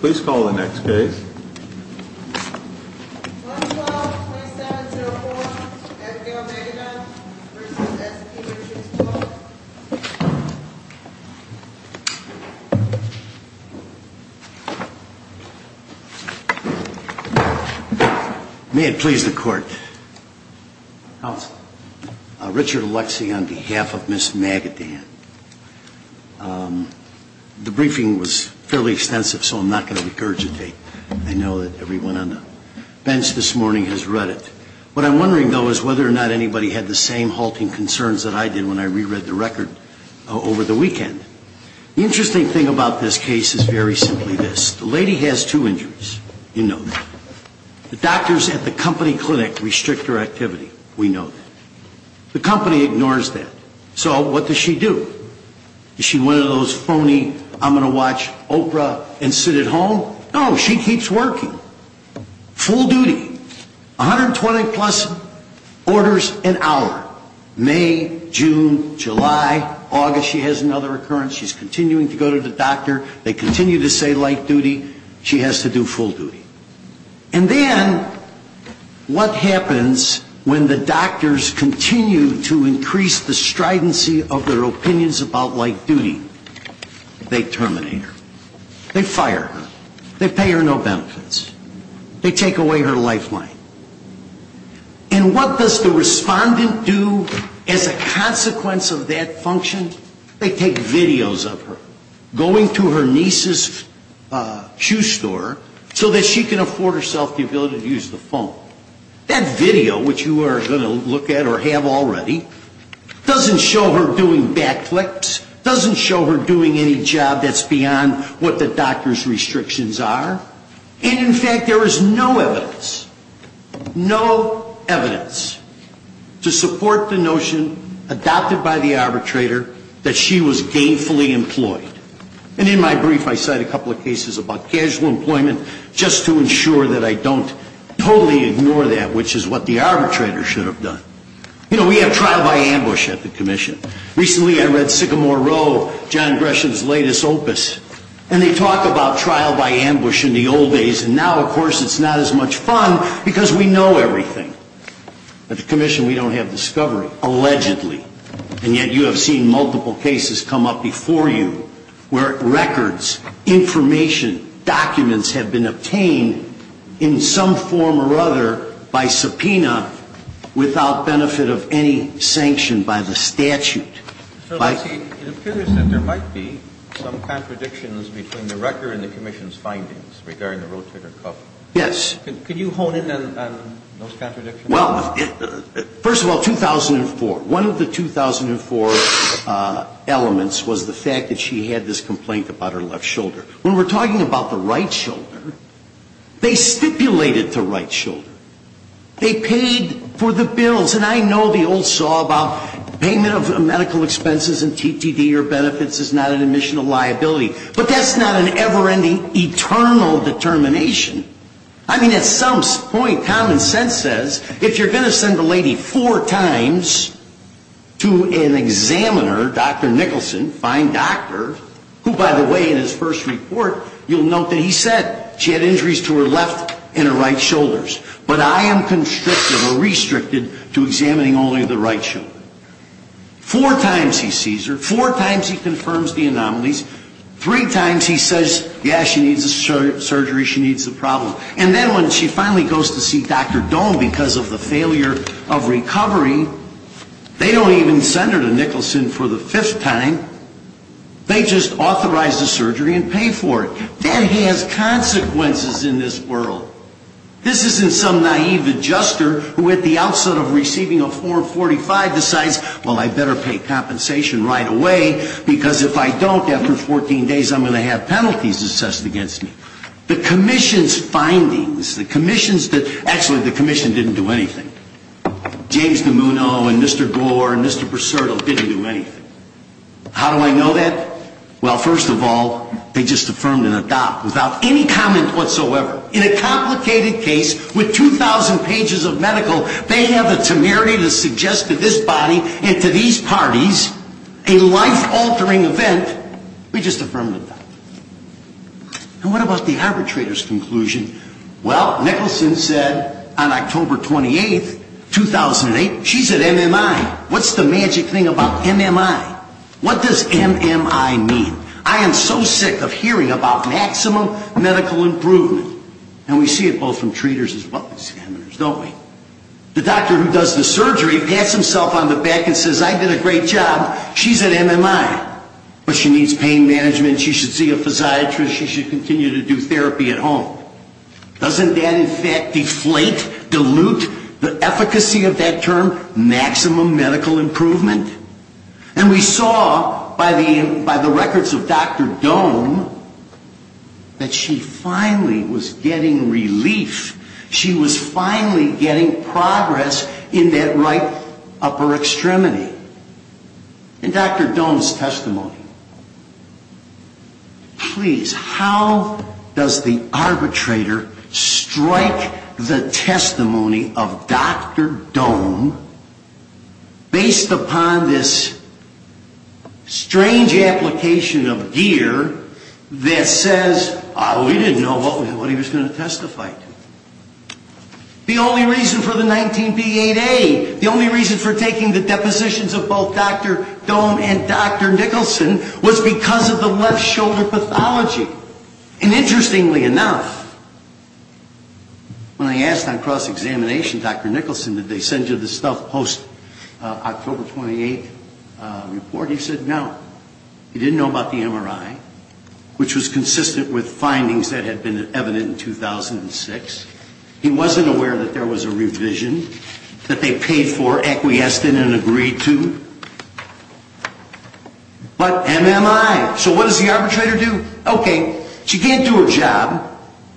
Please call the next case. May it please the court. Counsel. Richard Alexi on behalf of Ms. Magaddan. The briefing was fairly extensive, so I'm not going to regurgitate. I know that everyone on the bench this morning has read it. What I'm wondering, though, is whether or not anybody had the same halting concerns that I did when I reread the record over the weekend. The interesting thing about this case is very simply this. The lady has two injuries. You know that. The doctors at the company clinic restrict her activity. We know that. The company ignores that. So what does she do? Is she one of those phony, I'm going to watch Oprah and sit at home? No, she keeps working. Full duty. 120 plus orders an hour. May, June, July, August she has another occurrence. She's continuing to go to the doctor. They continue to say light duty. She has to do full duty. And then what happens when the doctors continue to increase the stridency of their opinions about light duty? They terminate her. They fire her. They pay her no benefits. They take away her lifeline. And what does the respondent do as a consequence of that function? They take videos of her going to her niece's shoe store so that she can afford herself the ability to use the phone. That video, which you are going to look at or have already, doesn't show her doing backflips, doesn't show her doing any job that's beyond what the doctor's restrictions are. And in fact, there is no evidence, no evidence to support the notion adopted by the arbitrator that she was gainfully employed. And in my brief, I cite a couple of cases about casual employment just to ensure that I don't totally ignore that, which is what the arbitrator should have done. You know, we have trial by ambush at the commission. Recently, I read Sycamore Row, John Gresham's latest opus, and they talk about trial by ambush in the old days, and now, of course, it's not as much fun because we know everything. At the commission, we don't have discovery, allegedly, and yet you have seen multiple cases come up before you where records, information, documents have been obtained in some form or other by subpoena without benefit of any sanction by the statute. It appears that there might be some contradictions between the record and the commission's findings regarding the rotator cuff. Yes. Could you hone in on those contradictions? Well, first of all, 2004. One of the 2004 elements was the fact that she had this complaint about her left shoulder. When we're talking about the right shoulder, they stipulated the right shoulder. They paid for the bills. And I know the old saw about payment of medical expenses and TTD or benefits is not an admission of liability. But that's not an ever-ending, eternal determination. I mean, at some point, common sense says if you're going to send a lady four times to an examiner, Dr. Nicholson, fine doctor, who, by the way, in his first report, you'll note that he said she had injuries to her left and her right shoulders. But I am constricted or restricted to examining only the right shoulder. Four times he sees her. Four times he confirms the anomalies. Three times he says, yeah, she needs a surgery. She needs a problem. And then when she finally goes to see Dr. Dohm because of the failure of recovery, they don't even send her to Nicholson for the fifth time. They just authorize the surgery and pay for it. That has consequences in this world. This isn't some naive adjuster who at the outset of receiving a form 45 decides, well, I better pay compensation right away because if I don't, after 14 days, I'm going to have penalties assessed against me. The commission's findings, the commission's, actually, the commission didn't do anything. James DeMuno and Mr. Gore and Mr. Bracero didn't do anything. How do I know that? Well, first of all, they just affirmed and adopted without any comment whatsoever. In a complicated case with 2,000 pages of medical, they have the temerity to suggest to this body and to these parties a life-altering event. We just affirmed it. And what about the arbitrator's conclusion? Well, Nicholson said on October 28, 2008, she's at MMI. What's the magic thing about MMI? What does MMI mean? I am so sick of hearing about maximum medical improvement. And we see it both from treaters as well as examiners, don't we? The doctor who does the surgery pats himself on the back and says, I did a great job. She's at MMI. But she needs pain management. She should see a physiatrist. She should continue to do therapy at home. Doesn't that, in fact, deflate, dilute the efficacy of that term, maximum medical improvement? And we saw by the records of Dr. Dohm that she finally was getting relief. She was finally getting progress in that right upper extremity. And Dr. Dohm's testimony. Please, how does the arbitrator strike the testimony of Dr. Dohm based upon this strange application of gear that says, oh, we didn't know what he was going to testify to. The only reason for the 19P8A, the only reason for taking the depositions of both Dr. Dohm and Dr. Nicholson, was because of the left shoulder pathology. And interestingly enough, when I asked on cross-examination, Dr. Nicholson, did they send you the stuff post-October 28th report, he said no. He didn't know about the MRI, which was consistent with findings that had been evident in 2006. He wasn't aware that there was a revision that they paid for, acquiesced in, and agreed to. But MMI, so what does the arbitrator do? Okay, she can't do her job.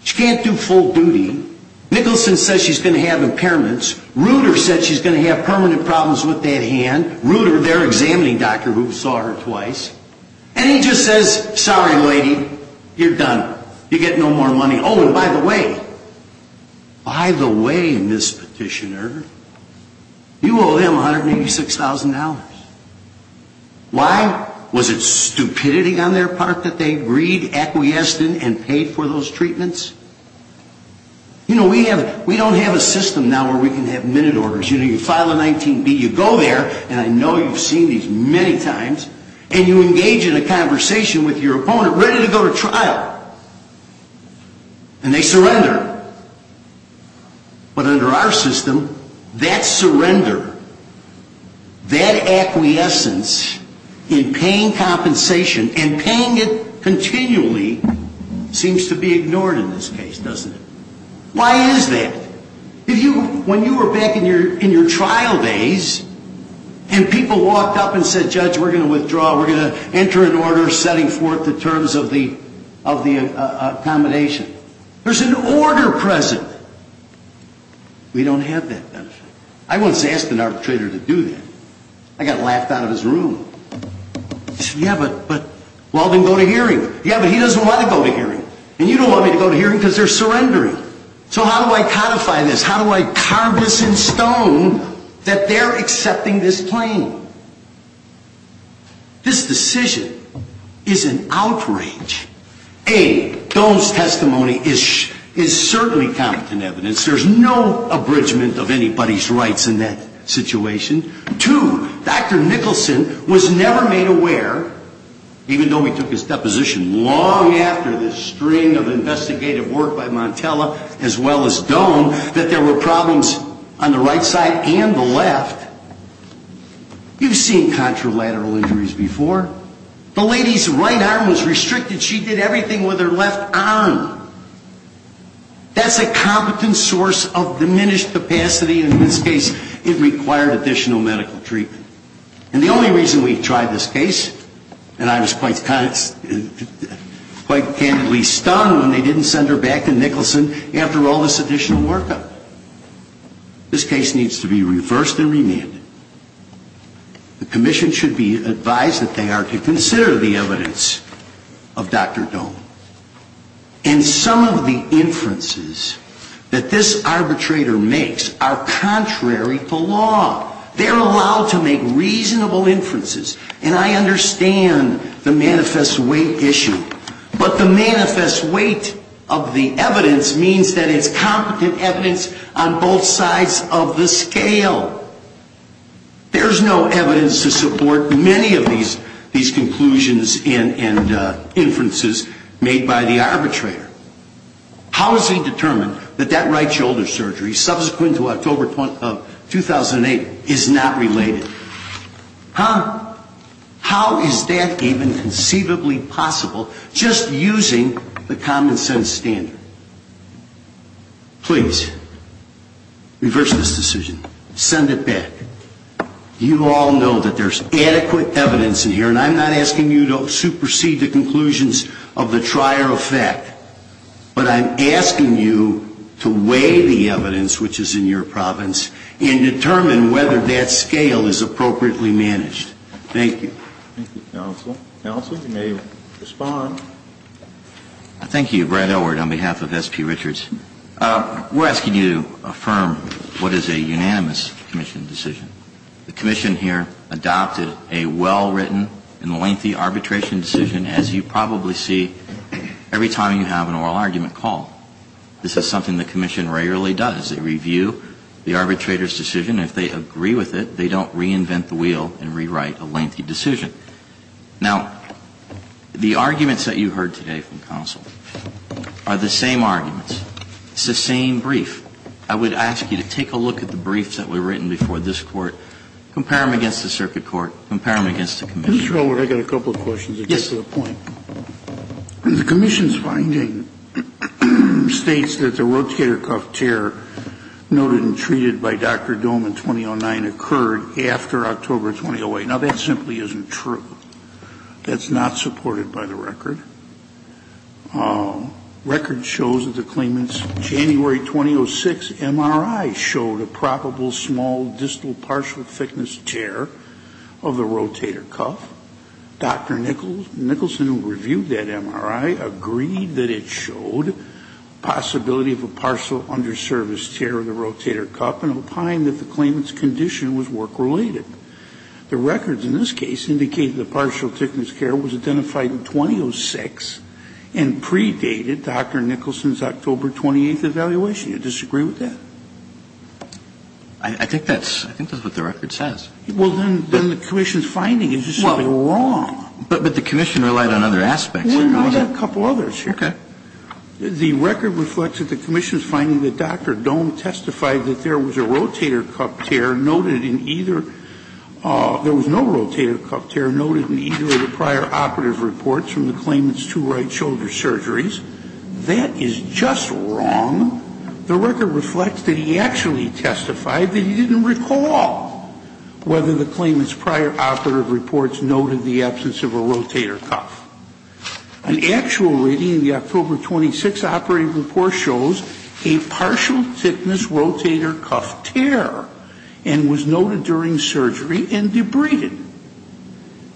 She can't do full duty. Nicholson says she's going to have impairments. Ruder says she's going to have permanent problems with that hand. Ruder, they're examining Dr. Ruh saw her twice. And he just says, sorry, lady, you're done. You get no more money. Oh, and by the way, by the way, Ms. Petitioner, you owe him $186,000. Why? Was it stupidity on their part that they agreed, acquiesced in, and paid for those treatments? You know, we don't have a system now where we can have minute orders. You know, you file a 19B, you go there, and I know you've seen these many times, and you engage in a conversation with your opponent ready to go to trial. And they surrender. But under our system, that surrender, that acquiescence in paying compensation and paying it continually seems to be ignored in this case, doesn't it? Why is that? When you were back in your trial days, and people walked up and said, Judge, we're going to withdraw. We're going to enter an order setting forth the terms of the accommodation. There's an order present. We don't have that benefit. I once asked an arbitrator to do that. I got laughed out of his room. He said, yeah, but we'll have him go to hearing. Yeah, but he doesn't want to go to hearing. And you don't want me to go to hearing because they're surrendering. So how do I codify this? How do I carve this in stone that they're accepting this claim? This decision is an outrage. A, Dole's testimony is certainly competent evidence. There's no abridgment of anybody's rights in that situation. Two, Dr. Nicholson was never made aware, even though we took his deposition long after this string of investigative work by Montella as well as Dole, that there were problems on the right side and the left. You've seen contralateral injuries before. The lady's right arm was restricted. She did everything with her left arm. That's a competent source of diminished capacity. In this case, it required additional medical treatment. And the only reason we tried this case, and I was quite candidly stunned when they didn't send her back to Nicholson after all this additional workup, this case needs to be reversed and remanded. The commission should be advised that they are to consider the evidence of Dr. Dole. And some of the inferences that this arbitrator makes are contrary to law. They're allowed to make reasonable inferences. And I understand the manifest weight issue. But the manifest weight of the evidence means that it's competent evidence on both sides of the scale. There's no evidence to support many of these conclusions and inferences made by the arbitrator. How is it determined that that right shoulder surgery, subsequent to October 2008, is not related? How is that even conceivably possible just using the common sense standard? Please, reverse this decision. Send it back. You all know that there's adequate evidence in here. And I'm not asking you to supersede the conclusions of the trier effect. But I'm asking you to weigh the evidence which is in your province and determine whether that scale is appropriately managed. Thank you. Thank you, counsel. Counsel, you may respond. Thank you. Brad Elward on behalf of S.P. Richards. We're asking you to affirm what is a unanimous commission decision. The commission here adopted a well-written and lengthy arbitration decision, as you probably see every time you have an oral argument call. This is something the commission rarely does. They review the arbitrator's decision. If they agree with it, they don't reinvent the wheel and rewrite a lengthy decision. Now, the arguments that you heard today from counsel are the same arguments. It's the same brief. I would ask you to take a look at the briefs that were written before this Court. Compare them against the circuit court. Compare them against the commission. Mr. Elward, I've got a couple of questions that get to the point. Yes. The commission's finding states that the rotator cuff tear noted and treated by Dr. Dohm in 2009 occurred after October 2008. Now, that simply isn't true. That's not supported by the record. Record shows that the claimant's January 2006 MRI showed a probable small distal partial thickness tear of the rotator cuff. Dr. Nicholson, who reviewed that MRI, agreed that it showed possibility of a partial underservice tear of the rotator cuff and opined that the claimant's condition was work-related. The records in this case indicate that partial thickness tear was identified in 2006 and predated Dr. Nicholson's October 28th evaluation. Do you disagree with that? I think that's what the record says. Well, then the commission's finding is just something wrong. But the commission relied on other aspects. Well, I've got a couple others here. Okay. The record reflects that the commission's finding that Dr. Dohm testified that there was no rotator cuff tear noted in either of the prior operative reports from the claimant's two right shoulder surgeries. That is just wrong. The record reflects that he actually testified that he didn't recall whether the claimant's prior operative reports noted the absence of a rotator cuff. An actual reading in the October 26th operative report shows a partial thickness rotator cuff tear and was noted during surgery and debrided.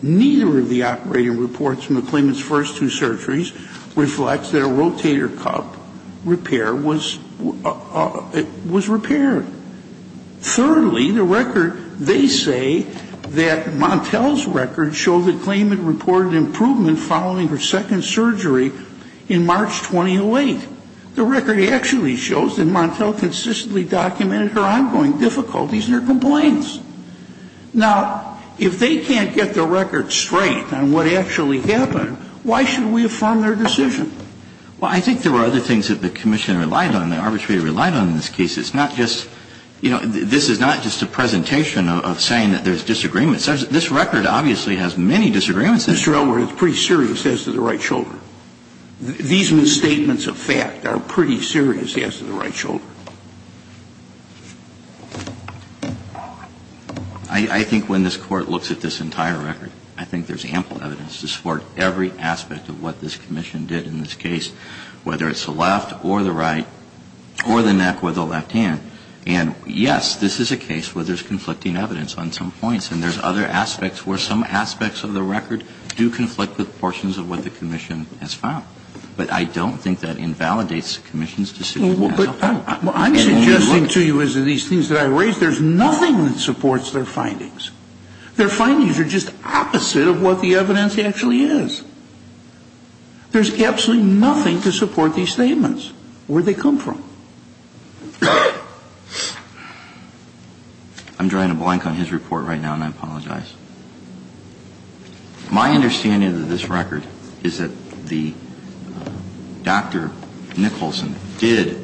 Neither of the operative reports from the claimant's first two surgeries reflects that a rotator cuff repair was repaired. Thirdly, the record, they say that Montel's records show the claimant reported improvement following her second surgery in March 2008. The record actually shows that Montel consistently documented her ongoing difficulties and her complaints. Now, if they can't get the record straight on what actually happened, why should we affirm their decision? Well, I think there were other things that the commission relied on and the arbitrator relied on in this case. It's not just, you know, this is not just a presentation of saying that there's disagreements. This record obviously has many disagreements in it. Mr. Elwood, it's pretty serious as to the right shoulder. These misstatements of fact are pretty serious as to the right shoulder. I think when this Court looks at this entire record, I think there's ample evidence to support every aspect of what this commission did in this case, whether it's the left or the right or the neck or the left hand. And, yes, this is a case where there's conflicting evidence on some points and there's other aspects where some aspects of the record do conflict with portions of what the commission has found. But I don't think that invalidates the commission's decision. Well, I'm suggesting to you as to these things that I raised, there's nothing that supports their findings. Their findings are just opposite of what the evidence actually is. There's absolutely nothing to support these statements, where they come from. I'm drawing a blank on his report right now, and I apologize. My understanding of this record is that the Dr. Nicholson did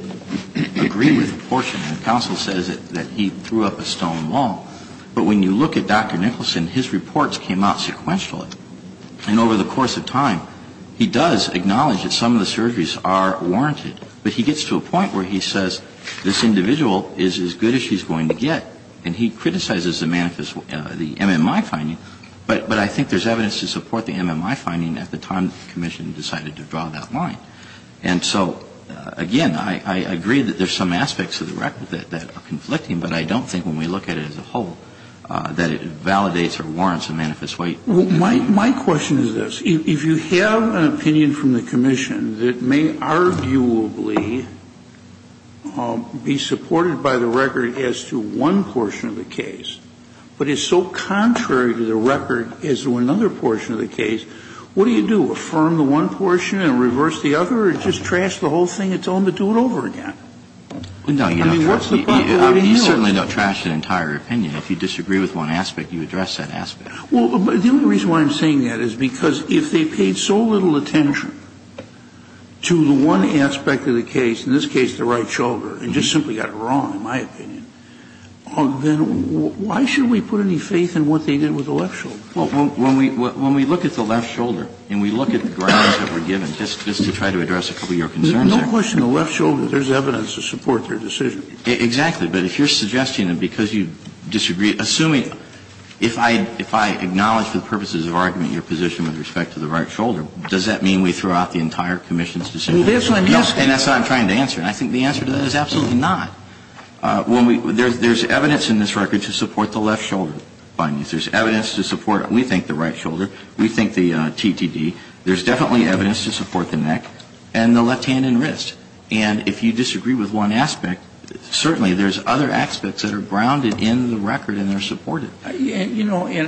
agree with a portion and counsel says that he threw up a stone wall. But when you look at Dr. Nicholson, his reports came out sequentially. And over the course of time, he does acknowledge that some of the surgeries are warranted. But he gets to a point where he says this individual is as good as she's going to get, and he criticizes the MMI finding. But I think there's evidence to support the MMI finding at the time the commission decided to draw that line. And so, again, I agree that there's some aspects of the record that are conflicting, but I don't think when we look at it as a whole that it validates or warrants a manifest way. Kennedy, my question is this. If you have an opinion from the commission that may arguably be supported by the record as to one portion of the case, but is so contrary to the record as to another portion of the case, what do you do? Affirm the one portion and reverse the other, or just trash the whole thing and tell them to do it over again? I mean, what's the point? Kennedy, you certainly don't trash an entire opinion. If you disagree with one aspect, you address that aspect. Well, the only reason why I'm saying that is because if they paid so little attention to the one aspect of the case, in this case the right shoulder, and just simply got it wrong, in my opinion, then why should we put any faith in what they did with the left shoulder? Well, when we look at the left shoulder and we look at the grounds that were given, just to try to address a couple of your concerns there. There's no question the left shoulder, there's evidence to support their decision. Exactly. But if you're suggesting that because you disagree, assuming if I acknowledge for the purposes of argument your position with respect to the right shoulder, does that mean we throw out the entire commission's decision? And that's what I'm trying to answer. And I think the answer to that is absolutely not. There's evidence in this record to support the left shoulder findings. There's evidence to support, we think, the right shoulder. We think the TTD. There's definitely evidence to support the neck and the left hand and wrist. And if you disagree with one aspect, certainly there's other aspects that are grounded in the record and they're supported. You know, and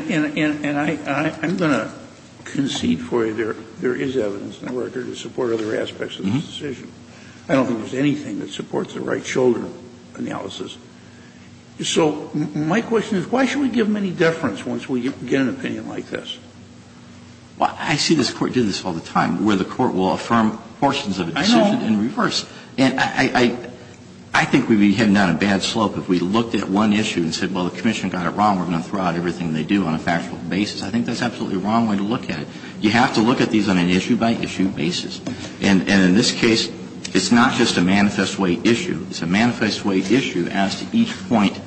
I'm going to concede for you there is evidence in the record to support other aspects of this decision. I don't think there's anything that supports the right shoulder analysis. So my question is, why should we give them any deference once we get an opinion like this? Well, I see this Court do this all the time, where the Court will affirm portions of a decision in reverse. And I think we'd be heading down a bad slope if we looked at one issue and said, well, the commission got it wrong. We're going to throw out everything they do on a factual basis. I think that's absolutely the wrong way to look at it. You have to look at these on an issue-by-issue basis. And in this case, it's not just a manifest way issue. It's a manifest way issue as to each point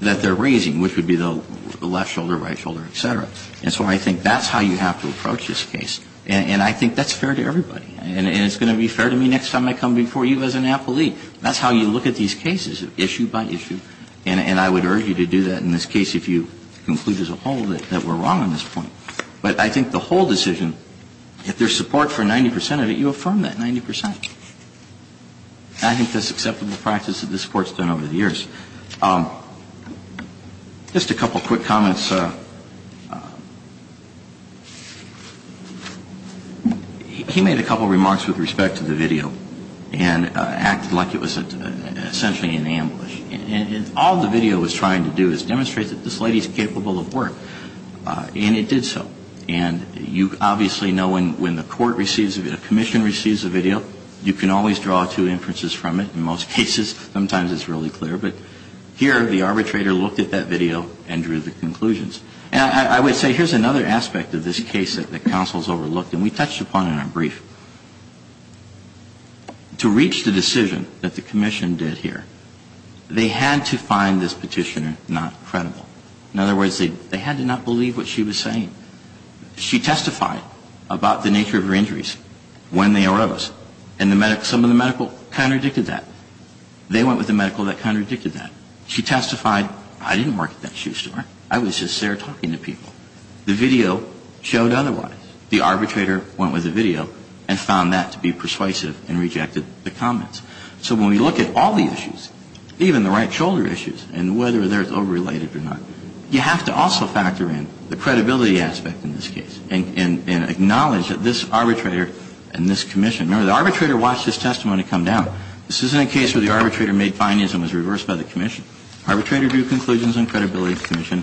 that they're raising, which would be the left shoulder, right shoulder, et cetera. And so I think that's how you have to approach this case. And I think that's fair to everybody. And it's going to be fair to me next time I come before you as an appellee. That's how you look at these cases, issue-by-issue. And I would urge you to do that in this case if you conclude as a whole that we're wrong on this point. But I think the whole decision, if there's support for 90 percent of it, you affirm that 90 percent. And I think that's acceptable practice that this Court's done over the years. Just a couple quick comments. He made a couple remarks with respect to the video and acted like it was essentially an ambush. And all the video was trying to do is demonstrate that this lady's capable of work. And it did so. And you obviously know when the Court receives a video, the Commission receives a video, you can always draw two inferences from it. In most cases, sometimes it's really clear. But here, the arbitrator looked at that video and drew the conclusions. And I would say here's another aspect of this case that the counsels overlooked and we touched upon in our brief. To reach the decision that the Commission did here, they had to find this petitioner not credible. In other words, they had to not believe what she was saying. She testified about the nature of her injuries when they arose. And some of the medical contradicted that. They went with the medical that contradicted that. She testified, I didn't work at that shoe store. I was just there talking to people. The video showed otherwise. The arbitrator went with the video and found that to be persuasive and rejected the comments. So when we look at all the issues, even the right shoulder issues and whether they're overrelated or not, you have to also factor in the credibility aspect in this case and acknowledge that this arbitrator and this Commission. Remember, the arbitrator watched this testimony come down. This isn't a case where the arbitrator made findings and was reversed by the Commission. Arbitrator drew conclusions on credibility and the Commission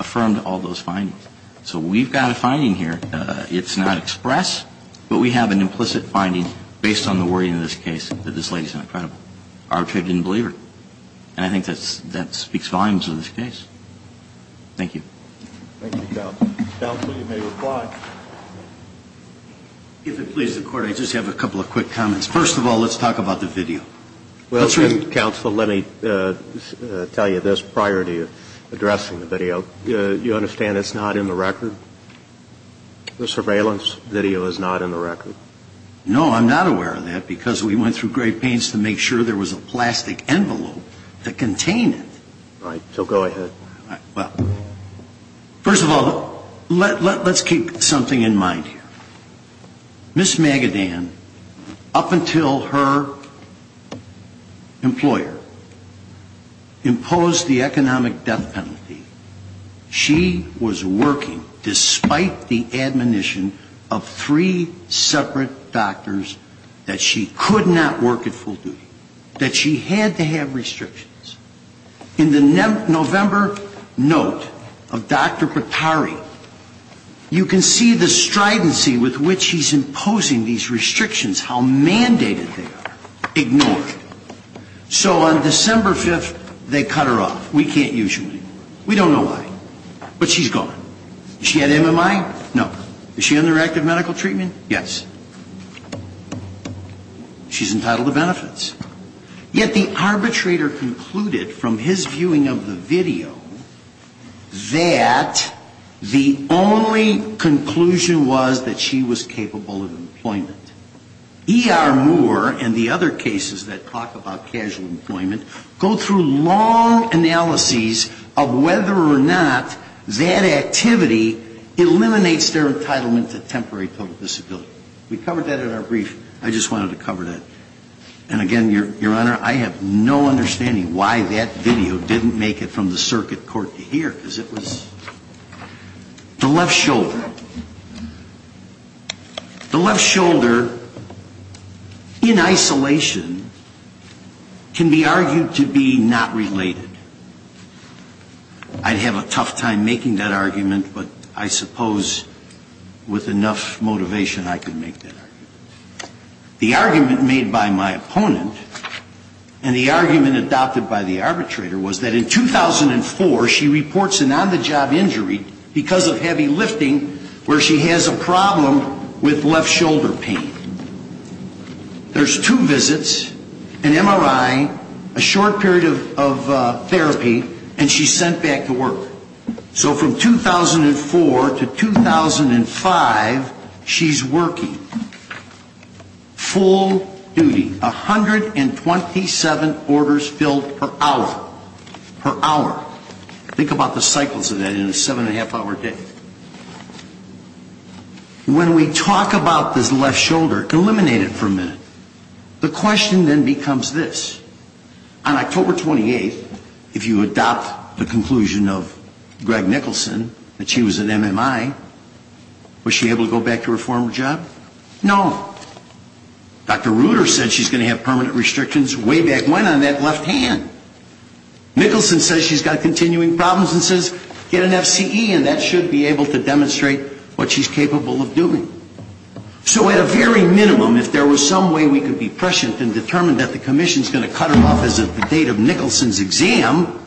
affirmed all those findings. So we've got a finding here. It's not expressed, but we have an implicit finding based on the wording of this case that this lady's not credible. Arbitrator didn't believe her. And I think that speaks volumes of this case. Thank you. Thank you, counsel. Counsel, you may reply. If it pleases the Court, I just have a couple of quick comments. First of all, let's talk about the video. Well, counsel, let me tell you this prior to addressing the video. You understand it's not in the record? The surveillance video is not in the record. No, I'm not aware of that because we went through great pains to make sure there was a plastic envelope to contain it. Right. So go ahead. Well, first of all, let's keep something in mind here. Ms. Magadan, up until her employer, imposed the economic death penalty. She was working despite the admonition of three separate doctors that she could not work at full duty, that she had to have restrictions. In the November note of Dr. Patari, you can see the stridency with which he's imposing these restrictions, how mandated they are, ignored. So on December 5th, they cut her off. We can't use you anymore. We don't know why. But she's gone. She had MMI? No. Is she under active medical treatment? Yes. She's entitled to benefits. Yet the arbitrator concluded from his viewing of the video that the only conclusion was that she was capable of employment. E.R. Moore and the other cases that talk about casual employment go through long analyses of whether or not that activity eliminates their entitlement to temporary total disability. We covered that in our brief. I just wanted to cover that. And again, Your Honor, I have no understanding why that video didn't make it from the circuit court to here, because it was the left shoulder. The left shoulder, in isolation, can be argued to be not related. I'd have a tough time making that argument, but I suppose with enough motivation I could make that argument. The argument made by my opponent and the argument adopted by the arbitrator was that in 2004 she reports an on-the-job injury because of heavy lifting where she has a problem with left shoulder pain. There's two visits, an MRI, a short period of therapy, and she's sent back to work. So from 2004 to 2005, she's working full duty, 127 orders filled per hour, per hour. Think about the cycles of that in a seven-and-a-half-hour day. When we talk about this left shoulder, eliminate it for a minute, the question then becomes this. On October 28th, if you adopt the conclusion of Greg Nicholson that she was an MMI, was she able to go back to her former job? No. Dr. Reuter said she's going to have permanent restrictions way back when on that left hand. Nicholson says she's got continuing problems and says get an FCE, and that should be able to demonstrate what she's capable of doing. So at a very minimum, if there was some way we could be prescient and determine that the commission's going to cut her off as of the date of Nicholson's exam,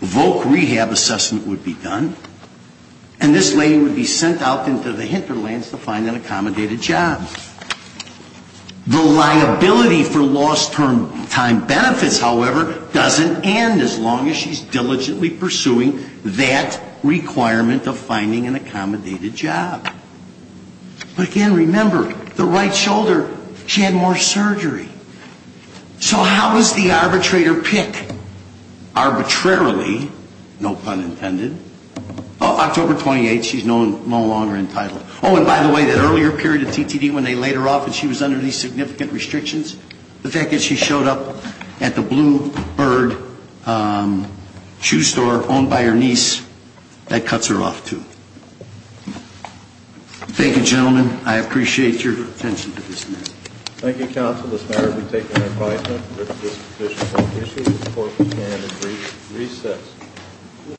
VOC rehab assessment would be done, and this lady would be sent out into the hinterlands to find an accommodated job. The liability for lost term benefits, however, doesn't end as long as she's diligently pursuing that requirement of finding an But again, remember, the right shoulder, she had more surgery. So how was the arbitrator picked? Arbitrarily, no pun intended, October 28th, she's no longer entitled. Oh, and by the way, that earlier period of TTD when they laid her off and she was under these significant restrictions, the fact that she Thank you, gentlemen. I appreciate your attention to this matter. Thank you, counsel. This matter will be taken in advisement. If there's any additional issues, of course, we can at recess.